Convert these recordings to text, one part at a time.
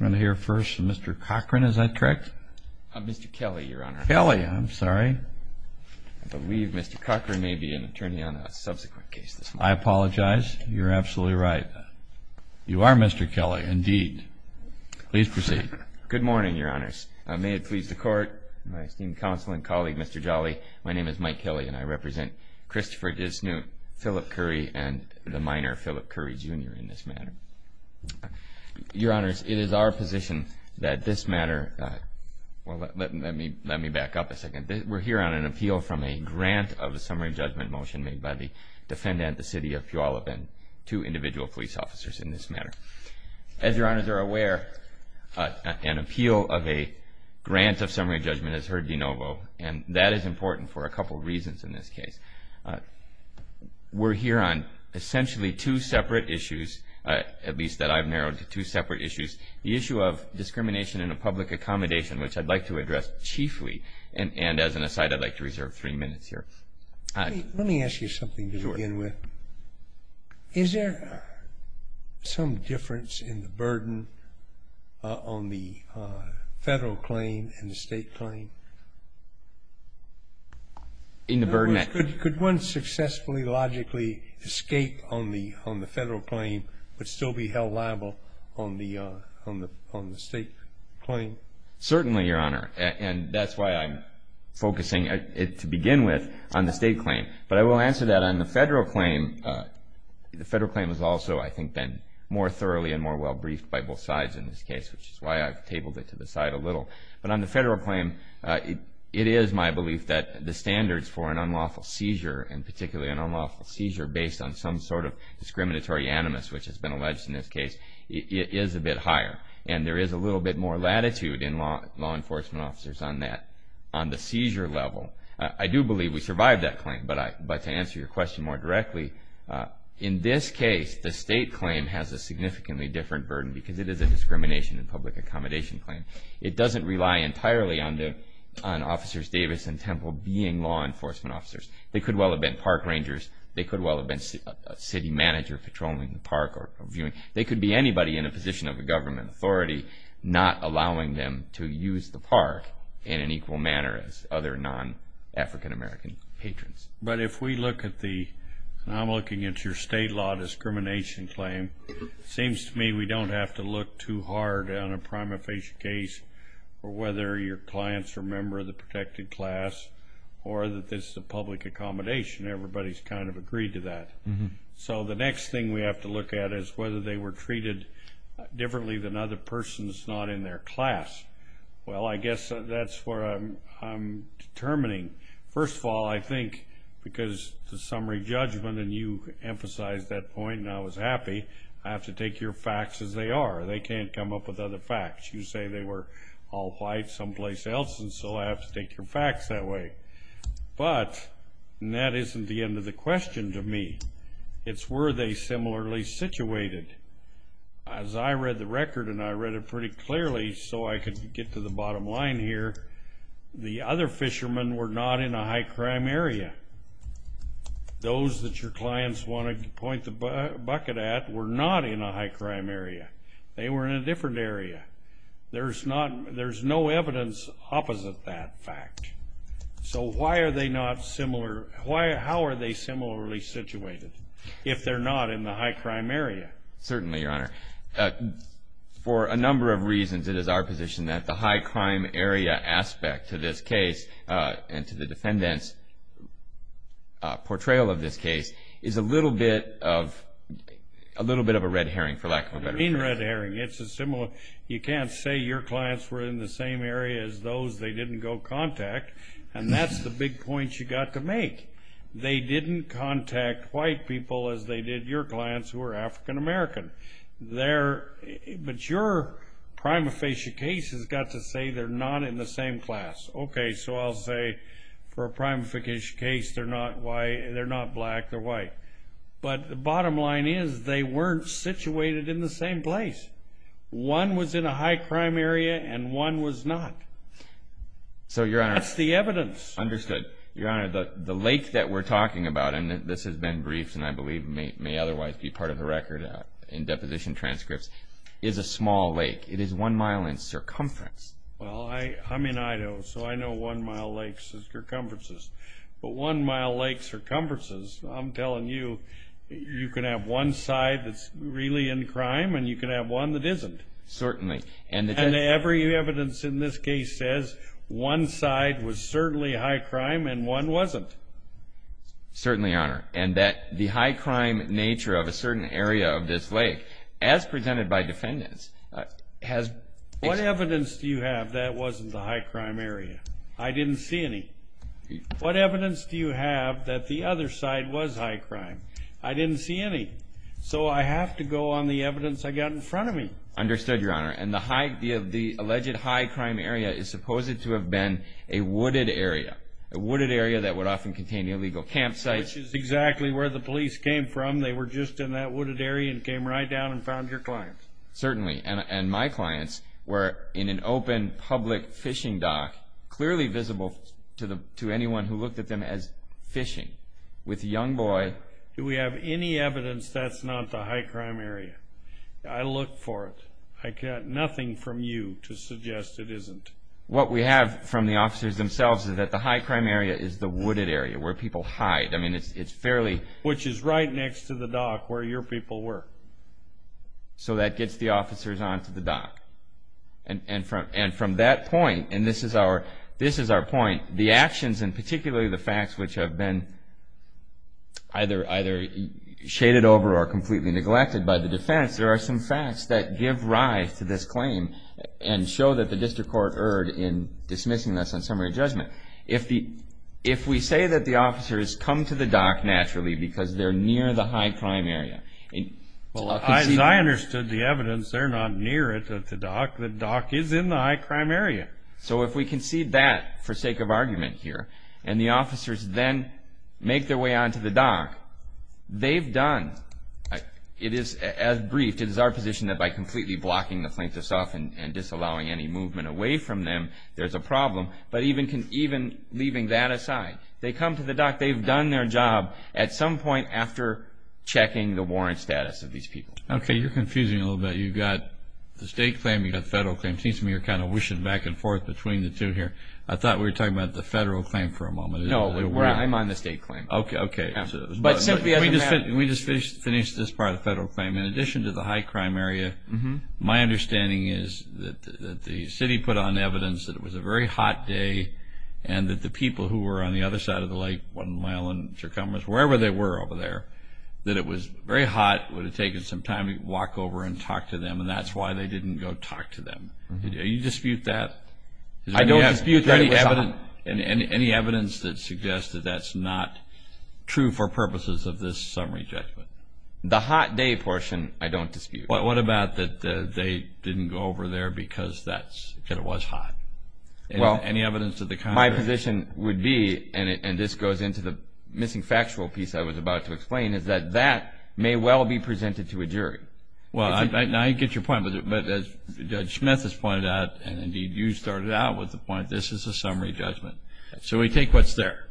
Mr. Cochran, is that correct? Mr. Kelly, Your Honor. Kelly, I'm sorry. I believe Mr. Cochran may be an attorney on a subsequent case this morning. I apologize. You're absolutely right. You are Mr. Kelly, indeed. Please proceed. Good morning, Your Honors. May it please the Court, my esteemed counsel and colleague, Mr. Jolly, my name is Mike Kelly and I represent Christopher Disnute, Philip Curry, and the minor, Philip Curry, Jr. in this matter. Your Honors, it is our position that this matter, well, let me back up a second. We're here on an appeal from a grant of a summary judgment motion made by the defendant, the City of Puyallup, and two individual police officers in this matter. As Your Honors are aware, an appeal of a grant of summary judgment is heard de novo, and that is important for a couple reasons in this case. We're here on essentially two separate issues, at least that I've narrowed to two separate issues, the issue of discrimination in a public accommodation, which I'd like to address chiefly, and as an aside, I'd like to reserve three minutes here. Let me ask you something to begin with. Sure. Is there some difference in the burden on the federal claim and the state claim? In the burden? In other words, could one successfully, logically escape on the federal claim but still be held liable on the state claim? Certainly, Your Honor, and that's why I'm focusing, to begin with, on the state claim. But I will answer that on the federal claim. The federal claim has also, I think, been more thoroughly and more well briefed by both sides in this case, which is why I've tabled it to the side a little. But on the federal claim, it is my belief that the standards for an unlawful seizure, and particularly an unlawful seizure based on some sort of discriminatory animus, which has been alleged in this case, is a bit higher. And there is a little bit more latitude in law enforcement officers on that, on the seizure level. I do believe we survived that claim, but to answer your question more directly, in this case, the state claim has a significantly different burden because it is a discrimination in public accommodation claim. It doesn't rely entirely on Officers Davis and Temple being law enforcement officers. They could well have been park rangers. They could well have been a city manager patrolling the park or viewing. They could be anybody in a position of a government authority not allowing them to use the park in an equal manner as other non-African American patrons. But if we look at the, and I'm looking at your state law discrimination claim, it seems to me we don't have to look too hard on a prima facie case for whether your clients are a member of the protected class or that this is a public accommodation. Everybody's kind of agreed to that. So the next thing we have to look at is whether they were treated differently than other persons not in their class. Well, I guess that's where I'm determining. First of all, I think because the summary judgment, and you emphasized that point and I was happy, I have to take your facts as they are. They can't come up with other facts. You say they were all white someplace else, and so I have to take your facts that way. But that isn't the end of the question to me. It's were they similarly situated. As I read the record, and I read it pretty clearly so I could get to the bottom line here, the other fishermen were not in a high-crime area. Those that your clients wanted to point the bucket at were not in a high-crime area. They were in a different area. There's no evidence opposite that fact. So how are they similarly situated if they're not in the high-crime area? Certainly, Your Honor. For a number of reasons, it is our position that the high-crime area aspect to this case and to the defendant's portrayal of this case is a little bit of a red herring, for lack of a better term. Red herring. It's a similar. You can't say your clients were in the same area as those they didn't go contact, and that's the big point you've got to make. They didn't contact white people as they did your clients who were African-American. But your prima facie case has got to say they're not in the same class. Okay, so I'll say for a prima facie case they're not black, they're white. But the bottom line is they weren't situated in the same place. One was in a high-crime area and one was not. That's the evidence. Understood. Your Honor, the lake that we're talking about, and this has been briefed and I believe may otherwise be part of the record in deposition transcripts, is a small lake. It is one mile in circumference. Well, I'm in Idaho, so I know one mile lakes are circumferences. But one mile lakes are cumbersome. I'm telling you, you can have one side that's really in crime and you can have one that isn't. Certainly. And every evidence in this case says one side was certainly high-crime and one wasn't. Certainly, Your Honor. And the high-crime nature of a certain area of this lake, as presented by defendants, has What evidence do you have that wasn't the high-crime area? I didn't see any. What evidence do you have that the other side was high-crime? I didn't see any. So I have to go on the evidence I got in front of me. Understood, Your Honor. And the alleged high-crime area is supposed to have been a wooded area, a wooded area that would often contain illegal campsites. Which is exactly where the police came from. They were just in that wooded area and came right down and found your client. Certainly. And my clients were in an open public fishing dock, clearly visible to anyone who looked at them as fishing, with a young boy. Do we have any evidence that's not the high-crime area? I looked for it. I got nothing from you to suggest it isn't. What we have from the officers themselves is that the high-crime area is the wooded area, where people hide. I mean, it's fairly Which is right next to the dock where your people were. So that gets the officers onto the dock. And from that point, and this is our point, the actions and particularly the facts which have been either shaded over or completely neglected by the defense, there are some facts that give rise to this claim and show that the district court erred in dismissing this on summary judgment. If we say that the officers come to the dock naturally because they're near the high-crime area. As I understood the evidence, they're not near it at the dock. The dock is in the high-crime area. So if we concede that for sake of argument here and the officers then make their way onto the dock, they've done, it is as briefed, it is our position that by completely blocking the plaintiffs off and disallowing any movement away from them, there's a problem. But even leaving that aside, they come to the dock, they've done their job at some point after checking the warrant status of these people. Okay, you're confusing a little bit. You've got the state claim, you've got the federal claim. It seems to me you're kind of wishing back and forth between the two here. I thought we were talking about the federal claim for a moment. No, I'm on the state claim. Okay. But simply as a matter of fact. We just finished this part of the federal claim. In addition to the high-crime area, my understanding is that the city put on evidence that it was a very hot day and that the people who were on the other side of the lake, one mile in circumference, wherever they were over there, that it was very hot, it would have taken some time to walk over and talk to them, and that's why they didn't go talk to them. Do you dispute that? I don't dispute that. Any evidence that suggests that that's not true for purposes of this summary judgment? The hot day portion I don't dispute. What about that they didn't go over there because it was hot? Well, my position would be, and this goes into the missing factual piece I was about to explain, is that that may well be presented to a jury. Well, I get your point, but as Judge Smith has pointed out, and indeed you started out with the point, this is a summary judgment. So we take what's there.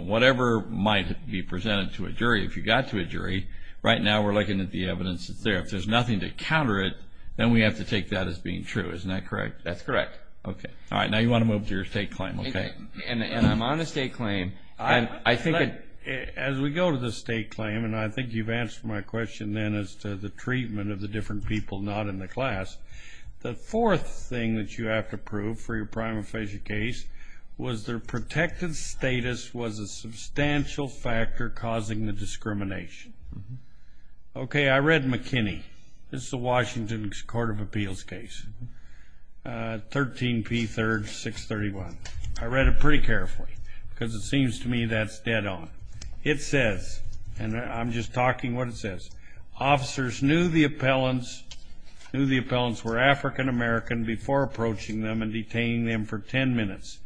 Whatever might be presented to a jury, if you got to a jury, right now we're looking at the evidence that's there. If there's nothing to counter it, then we have to take that as being true. Isn't that correct? That's correct. All right. Now you want to move to your state claim. Okay. And I'm on a state claim. As we go to the state claim, and I think you've answered my question then as to the treatment of the different people not in the class, the fourth thing that you have to prove for your prima facie case was their protective status was a substantial factor causing the discrimination. Okay. I read McKinney. This is the Washington Court of Appeals case, 13P3, 631. I read it pretty carefully because it seems to me that's dead on. It says, and I'm just talking what it says, officers knew the appellants were African American before approaching them and detaining them for 10 minutes.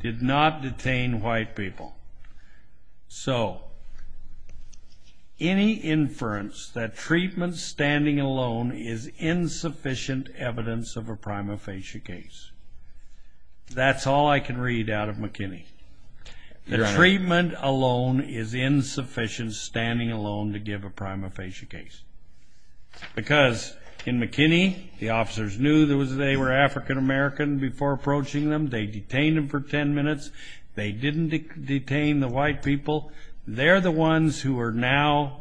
Did not detain white people. So any inference that treatment standing alone is insufficient evidence of a prima facie case, that's all I can read out of McKinney. The treatment alone is insufficient standing alone to give a prima facie case. Because in McKinney, the officers knew they were African American before approaching them. They detained them for 10 minutes. They didn't detain the white people. They're the ones who are now,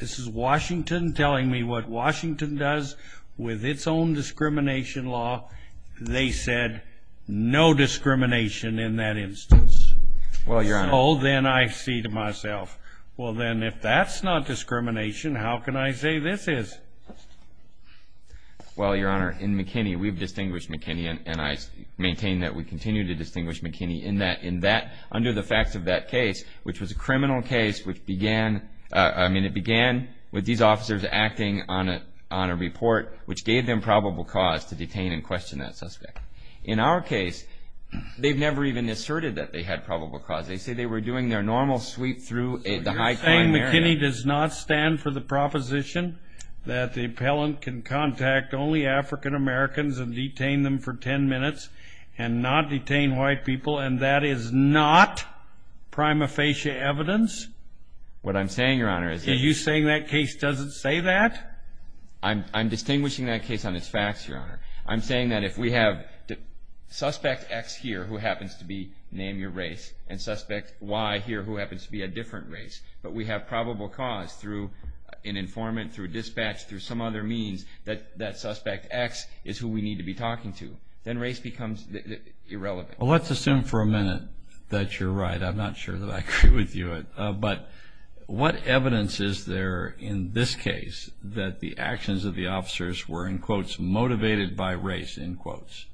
this is Washington telling me what Washington does with its own discrimination law. They said no discrimination in that instance. Well, Your Honor. So then I see to myself, well, then if that's not discrimination, how can I say this is? Well, Your Honor, in McKinney, we've distinguished McKinney and I maintain that we continue to distinguish McKinney in that under the facts of that case, which was a criminal case which began, I mean, it began with these officers acting on a report which gave them probable cause to detain and question that suspect. In our case, they've never even asserted that they had probable cause. They say they were doing their normal sweep through the high crime area. So you're saying McKinney does not stand for the proposition that the appellant can contact only African Americans and detain them for 10 minutes and not detain white people and that is not prima facie evidence? What I'm saying, Your Honor, is that... Are you saying that case doesn't say that? I'm distinguishing that case on its facts, Your Honor. I'm saying that if we have suspect X here who happens to be, name your race, and suspect Y here who happens to be a different race, but we have probable cause through an informant, through dispatch, through some other means, that suspect X is who we need to be talking to, then race becomes irrelevant. Well, let's assume for a minute that you're right. I'm not sure that I agree with you. But what evidence is there in this case that the actions of the officers were, in quotes, motivated by race, in quotes?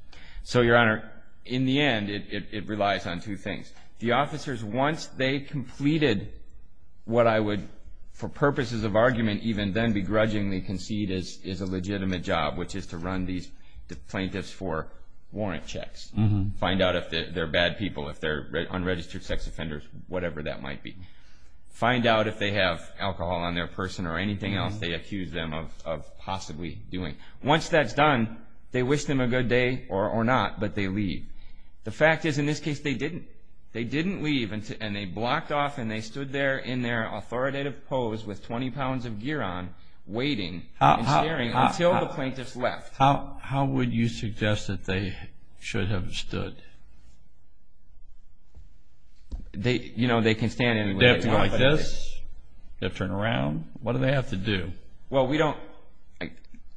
So, Your Honor, in the end, it relies on two things. The officers, once they completed what I would, for purposes of argument even, then begrudgingly concede is a legitimate job, which is to run these plaintiffs for warrant checks, find out if they're bad people, if they're unregistered sex offenders, whatever that might be. Find out if they have alcohol on their person or anything else they accuse them of possibly doing. Once that's done, they wish them a good day or not, but they leave. The fact is, in this case, they didn't. They didn't leave, and they blocked off and they stood there in their authoritative pose with 20 pounds of gear on, waiting and staring until the plaintiffs left. How would you suggest that they should have stood? You know, they can stand anywhere. Do they have to go like this? Do they have to turn around? What do they have to do? Well, we don't,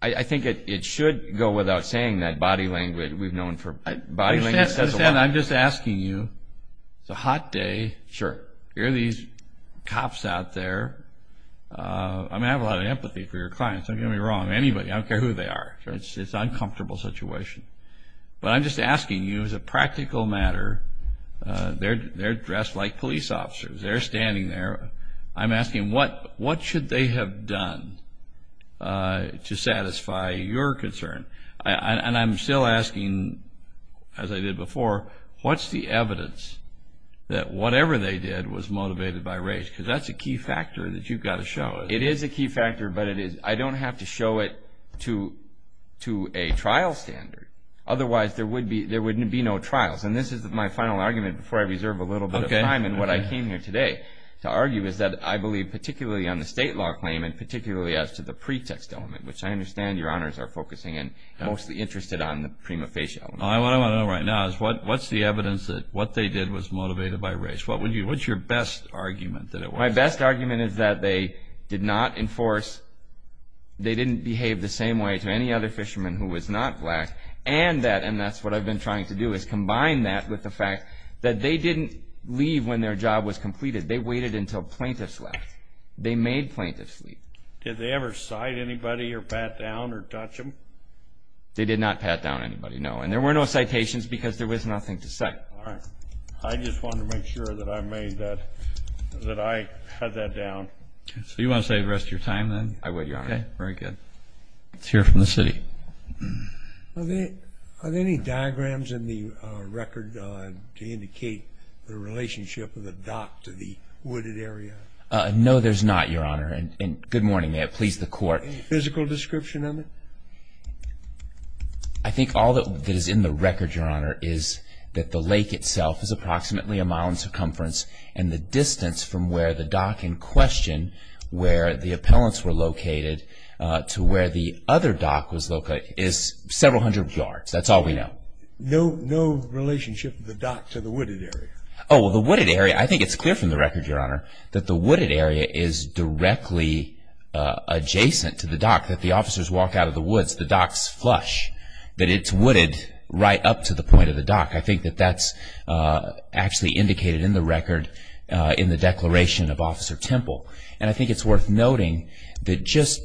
I think it should go without saying that body language, we've known for, body language. I'm just asking you, it's a hot day. Sure. Here are these cops out there. I mean, I have a lot of empathy for your clients. Don't get me wrong, anybody, I don't care who they are. It's an uncomfortable situation. But I'm just asking you, as a practical matter, they're dressed like police officers. They're standing there. I'm asking, what should they have done to satisfy your concern? And I'm still asking, as I did before, what's the evidence that whatever they did was motivated by race? Because that's a key factor that you've got to show. It is a key factor, but I don't have to show it to a trial standard. Otherwise, there wouldn't be no trials. And this is my final argument before I reserve a little bit of time in what I came here today. To argue is that I believe, particularly on the state law claim and particularly as to the pretext element, which I understand your honors are focusing in, mostly interested on the prima facie element. All I want to know right now is what's the evidence that what they did was motivated by race? What's your best argument that it was? My best argument is that they did not enforce, they didn't behave the same way to any other fisherman who was not black, and that, and that's what I've been trying to do, is combine that with the fact that they didn't leave when their job was completed. They waited until plaintiffs left. They made plaintiffs leave. Did they ever cite anybody or pat down or touch them? They did not pat down anybody, no. And there were no citations because there was nothing to cite. All right. I just wanted to make sure that I made that, that I had that down. So you want to save the rest of your time then? I would, your honor. Okay, very good. Let's hear from the city. Are there any diagrams in the record to indicate the relationship of the dock to the wooded area? No, there's not, your honor. And good morning, may it please the court. Any physical description of it? I think all that is in the record, your honor, is that the lake itself is approximately a mile in circumference and the distance from where the dock in question, where the appellants were located, to where the other dock was located is several hundred yards. That's all we know. No relationship of the dock to the wooded area? Oh, the wooded area, I think it's clear from the record, your honor, that the wooded area is directly adjacent to the dock. That the officers walk out of the woods, the dock's flush. That it's wooded right up to the point of the dock. I think that that's actually indicated in the record in the declaration of Officer Temple. And I think it's worth noting that just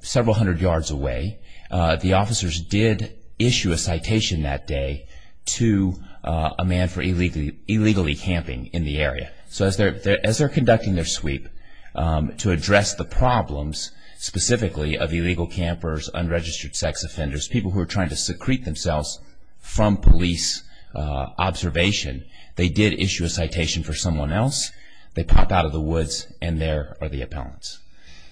several hundred yards away, the officers did issue a citation that day to a man for illegally camping in the area. So as they're conducting their sweep to address the problems specifically of illegal campers, unregistered sex offenders, people who are trying to secrete themselves from police observation, they did issue a citation for someone else. They popped out of the woods, and there are the appellants.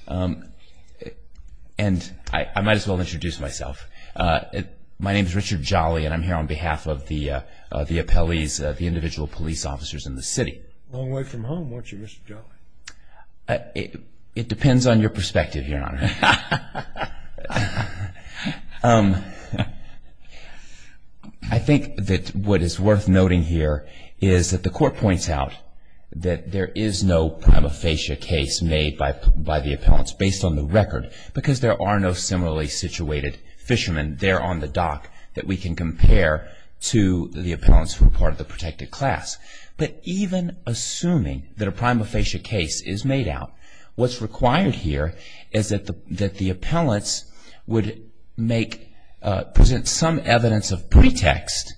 And I might as well introduce myself. My name's Richard Jolly, and I'm here on behalf of the appellees, the individual police officers in the city. Long way from home, weren't you, Mr. Jolly? It depends on your perspective, your honor. I think that what is worth noting here is that the court points out that there is no prima facie case made by the appellants based on the record because there are no similarly situated fishermen there on the dock that we can compare to the appellants who are part of the protected class. But even assuming that a prima facie case is made out, what's required here is that the appellants would present some evidence of pretext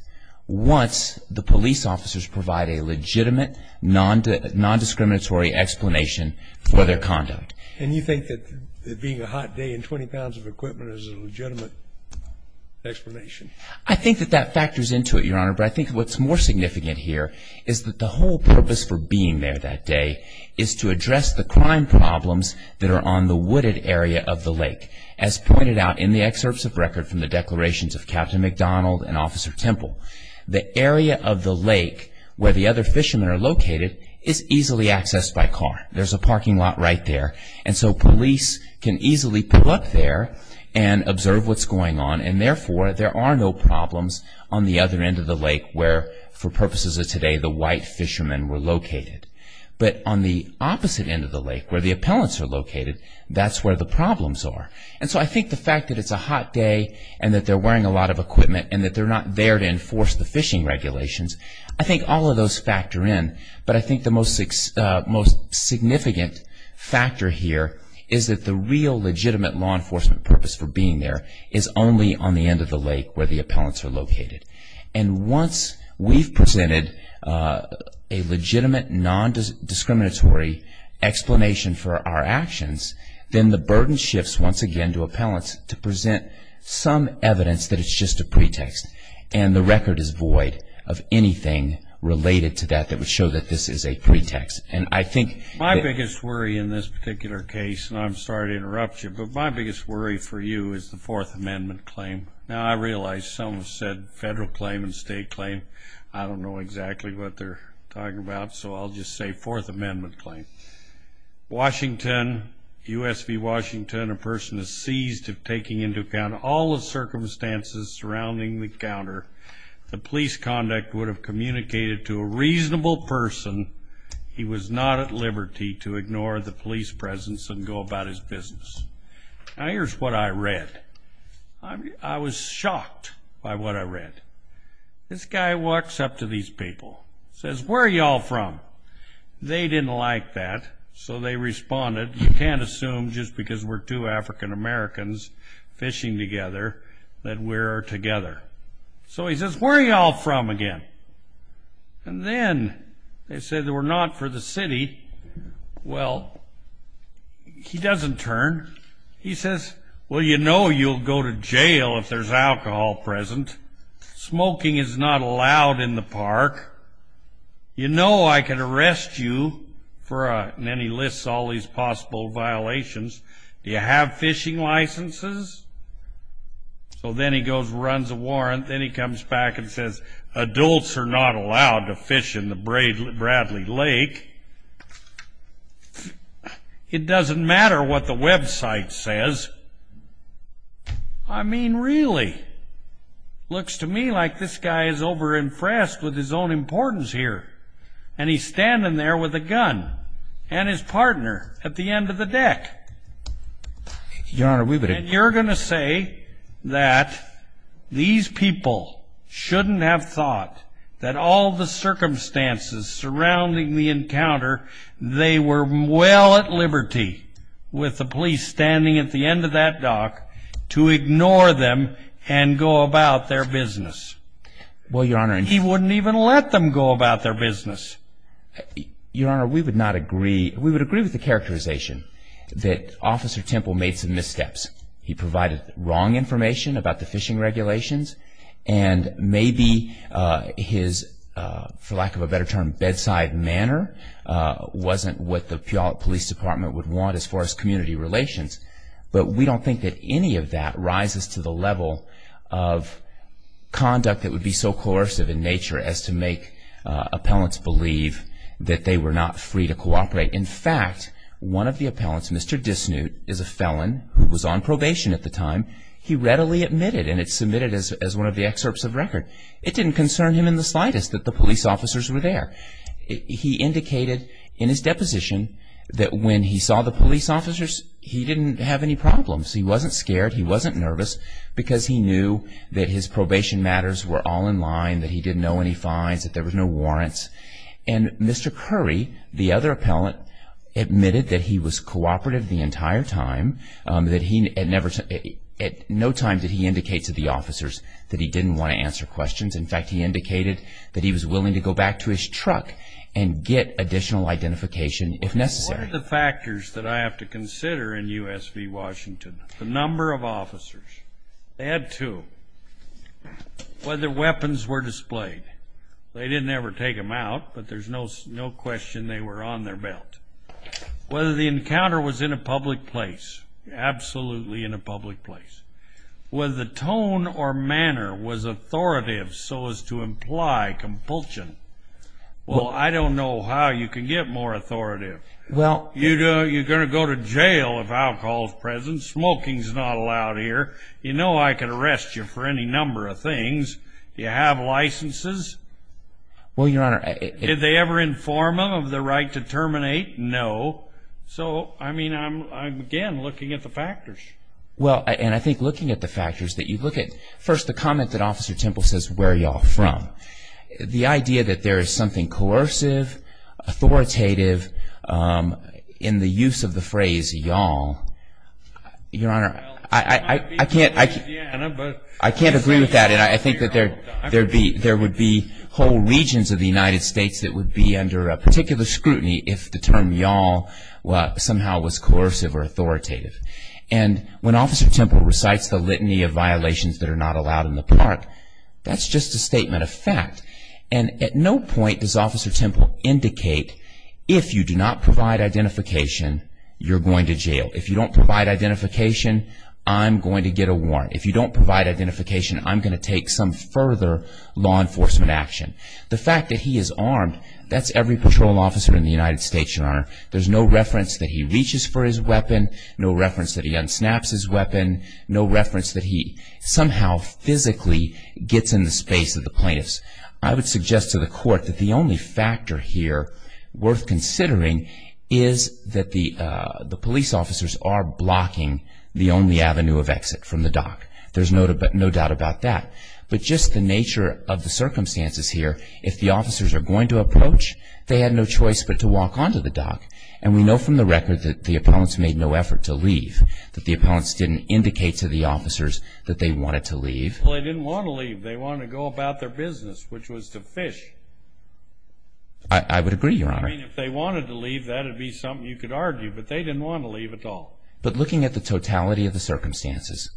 once the police officers provide a legitimate, non-discriminatory explanation for their conduct. And you think that being a hot day and 20 pounds of equipment is a legitimate explanation? I think that that factors into it, your honor. But I think what's more significant here is that the whole purpose for being there that day is to address the crime problems that are on the wooded area of the lake. As pointed out in the excerpts of record from the declarations of Captain McDonald and Officer Temple, the area of the lake where the other fishermen are located is easily accessed by car. There's a parking lot right there. And so police can easily pull up there and observe what's going on and therefore there are no problems on the other end of the lake where, for purposes of today, the white fishermen were located. But on the opposite end of the lake where the appellants are located, that's where the problems are. And so I think the fact that it's a hot day and that they're wearing a lot of equipment and that they're not there to enforce the fishing regulations, I think all of those factor in. But I think the most significant factor here is that the real legitimate law enforcement purpose for being there is only on the end of the lake where the appellants are located. And once we've presented a legitimate, non-discriminatory explanation for our actions, then the burden shifts once again to appellants to present some evidence that it's just a pretext and the record is void of anything related to that that would show that this is a pretext. And I think that... My biggest worry in this particular case, and I'm sorry to interrupt you, but my biggest worry for you is the Fourth Amendment claim. Now, I realize some have said federal claim and state claim. I don't know exactly what they're talking about, so I'll just say Fourth Amendment claim. Washington, U.S. v. Washington, a person is seized of taking into account all the circumstances surrounding the encounter. The police conduct would have communicated to a reasonable person he was not at liberty to ignore the police presence and go about his business. Now, here's what I read. I was shocked by what I read. This guy walks up to these people, says, Where are y'all from? They didn't like that, so they responded, You can't assume just because we're two African Americans fishing together that we're together. So he says, Where are y'all from again? And then they said we're not for the city. Well, he doesn't turn. He says, Well, you know you'll go to jail if there's alcohol present. Smoking is not allowed in the park. You know I could arrest you. And then he lists all these possible violations. Do you have fishing licenses? So then he goes and runs a warrant. Then he comes back and says, Adults are not allowed to fish in the Bradley Lake. It doesn't matter what the website says. I mean, really? Looks to me like this guy is over-impressed with his own importance here. And he's standing there with a gun and his partner at the end of the deck. Your Honor, we would agree. And you're going to say that these people shouldn't have thought that all the circumstances surrounding the encounter, they were well at liberty with the police standing at the end of that dock to ignore them and go about their business. Well, Your Honor. He wouldn't even let them go about their business. Your Honor, we would not agree. We would agree with the characterization that Officer Temple made some missteps. He provided wrong information about the fishing regulations. And maybe his, for lack of a better term, bedside manner wasn't what the Puyallup Police Department would want as far as community relations. But we don't think that any of that rises to the level of conduct that would be so coercive in nature as to make appellants believe that they were not free to cooperate. In fact, one of the appellants, Mr. Disnute, is a felon who was on probation at the time. He readily admitted, and it's submitted as one of the excerpts of record. It didn't concern him in the slightest that the police officers were there. He indicated in his deposition that when he saw the police officers, he didn't have any problems. He wasn't scared. He wasn't nervous because he knew that his probation matters were all in line, that he didn't know any fines, that there were no warrants. And Mr. Curry, the other appellant, admitted that he was cooperative the entire time, that at no time did he indicate to the officers that he didn't want to answer questions. In fact, he indicated that he was willing to go back to his truck and get additional identification if necessary. What are the factors that I have to consider in U.S. v. Washington? The number of officers. They had two. Whether weapons were displayed. They didn't ever take them out, but there's no question they were on their belt. Whether the encounter was in a public place. Absolutely in a public place. Whether the tone or manner was authoritative so as to imply compulsion. Well, I don't know how you can get more authoritative. You're going to go to jail if alcohol is present. Smoking is not allowed here. You know I could arrest you for any number of things. Do you have licenses? Well, Your Honor, I... Did they ever inform him of the right to terminate? No. So, I mean, I'm, again, looking at the factors. Well, and I think looking at the factors that you look at. First, the comment that Officer Temple says, where are y'all from? The idea that there is something coercive, authoritative in the use of the phrase y'all. Your Honor, I can't agree with that, and I think that there would be whole regions of the United States that would be under particular scrutiny if the term y'all somehow was coercive or authoritative. And when Officer Temple recites the litany of violations that are not allowed in the park, that's just a statement of fact. And at no point does Officer Temple indicate, if you do not provide identification, you're going to jail. If you don't provide identification, I'm going to get a warrant. If you don't provide identification, I'm going to take some further law enforcement action. The fact that he is armed, that's every patrol officer in the United States, Your Honor. There's no reference that he reaches for his weapon, no reference that he unsnaps his weapon, no reference that he somehow physically gets in the space of the plaintiffs. I would suggest to the court that the only factor here worth considering is that the police officers are blocking the only avenue of exit from the dock. There's no doubt about that. But just the nature of the circumstances here, if the officers are going to approach, they had no choice but to walk onto the dock. And we know from the record that the appellants made no effort to leave, that the appellants didn't indicate to the officers that they wanted to leave. Well, they didn't want to leave. They wanted to go about their business, which was to fish. I would agree, Your Honor. I mean, if they wanted to leave, that would be something you could argue, but they didn't want to leave at all. But looking at the totality of the circumstances,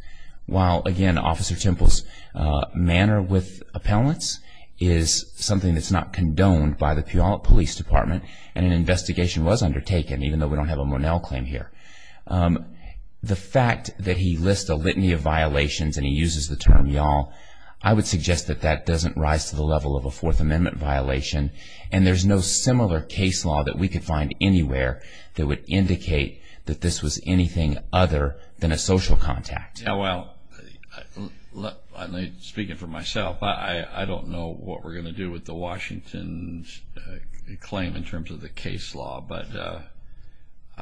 while, again, Officer Temple's manner with appellants is something that's not condoned by the Puyallup Police Department, and an investigation was undertaken, even though we don't have a Monell claim here. The fact that he lists a litany of violations and he uses the term y'all, I would suggest that that doesn't rise to the level of a Fourth Amendment violation, and there's no similar case law that we could find anywhere that would indicate that this was anything other than a social contact. Well, speaking for myself, I don't know what we're going to do with the Washington claim in terms of the case law, but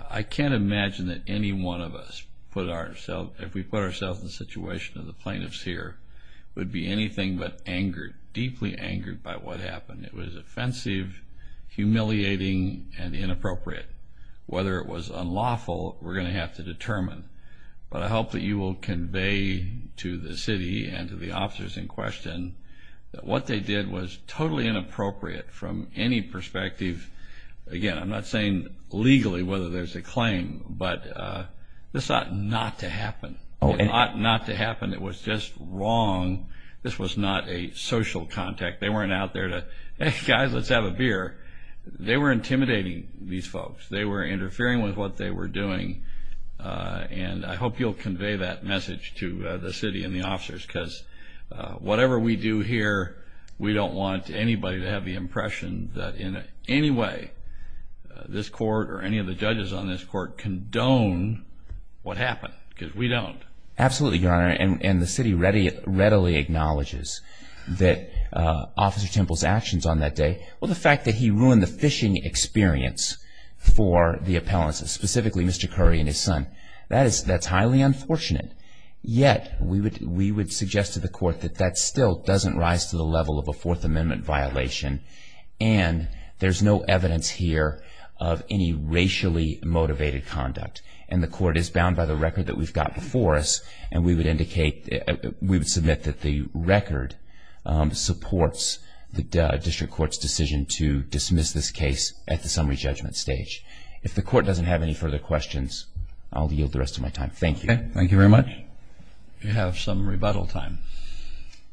I can't imagine that any one of us, if we put ourselves in the situation of the plaintiffs here, would be anything but angered, deeply angered by what happened. It was offensive, humiliating, and inappropriate. Whether it was unlawful, we're going to have to determine. But I hope that you will convey to the city and to the officers in question that what they did was totally inappropriate from any perspective. Again, I'm not saying legally whether there's a claim, but this ought not to happen. It ought not to happen. It was just wrong. This was not a social contact. They weren't out there to, hey, guys, let's have a beer. They were intimidating these folks. They were interfering with what they were doing, and I hope you'll convey that message to the city and the officers because whatever we do here, we don't want anybody to have the impression that in any way this court or any of the judges on this court condone what happened because we don't. Absolutely, Your Honor, and the city readily acknowledges that Officer Temple's actions on that day, well, the fact that he ruined the fishing experience for the appellants, specifically Mr. Curry and his son, that's highly unfortunate. Yet we would suggest to the court that that still doesn't rise to the level of a Fourth Amendment violation, and there's no evidence here of any racially motivated conduct, and the court is bound by the record that we've got before us, and we would submit that the record supports the district court's decision to dismiss this case at the summary judgment stage. If the court doesn't have any further questions, I'll yield the rest of my time. Thank you. Thank you very much. We have some rebuttal time.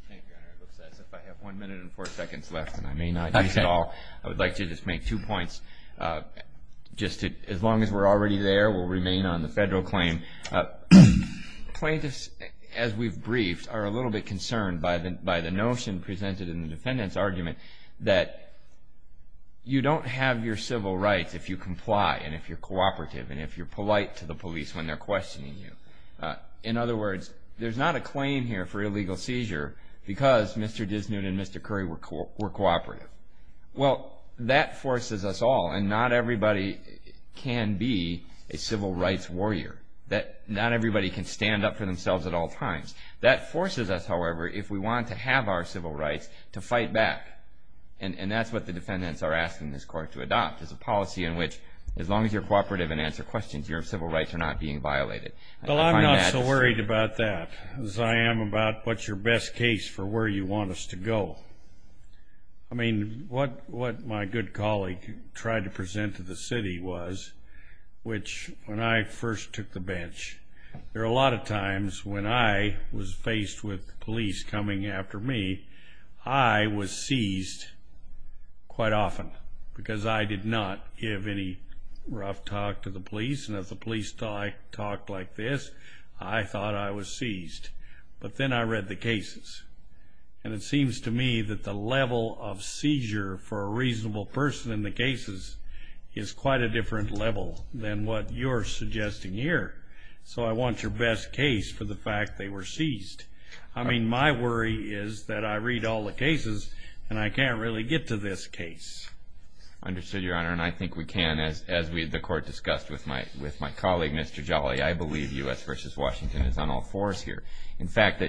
Thank you, Your Honor. It looks as if I have one minute and four seconds left, and I may not use it all. I would like to just make two points. As long as we're already there, we'll remain on the federal claim. Plaintiffs, as we've briefed, are a little bit concerned by the notion presented in the defendant's argument that you don't have your civil rights if you comply and if you're cooperative and if you're polite to the police when they're questioning you. In other words, there's not a claim here for illegal seizure because Mr. Disney and Mr. Curry were cooperative. Well, that forces us all, and not everybody can be a civil rights warrior. Not everybody can stand up for themselves at all times. That forces us, however, if we want to have our civil rights, to fight back, and that's what the defendants are asking this court to adopt, is a policy in which as long as you're cooperative and answer questions, your civil rights are not being violated. Well, I'm not so worried about that as I am about what's your best case for where you want us to go. I mean, what my good colleague tried to present to the city was, which when I first took the bench, there were a lot of times when I was faced with police coming after me, I was seized quite often because I did not give any rough talk to the police, and if the police thought I talked like this, I thought I was seized. But then I read the cases, and it seems to me that the level of seizure for a reasonable person in the cases is quite a different level than what you're suggesting here. So I want your best case for the fact they were seized. I mean, my worry is that I read all the cases, and I can't really get to this case. Understood, Your Honor, and I think we can, as the court discussed with my colleague, Mr. Jolly, I believe U.S. v. Washington is on all fours here. But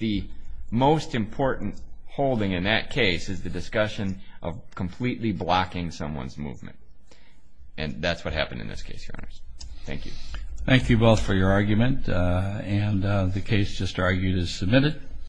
the most important holding in that case is the discussion of completely blocking someone's movement, and that's what happened in this case, Your Honors. Thank you. Thank you both for your argument, and the case just argued is submitted.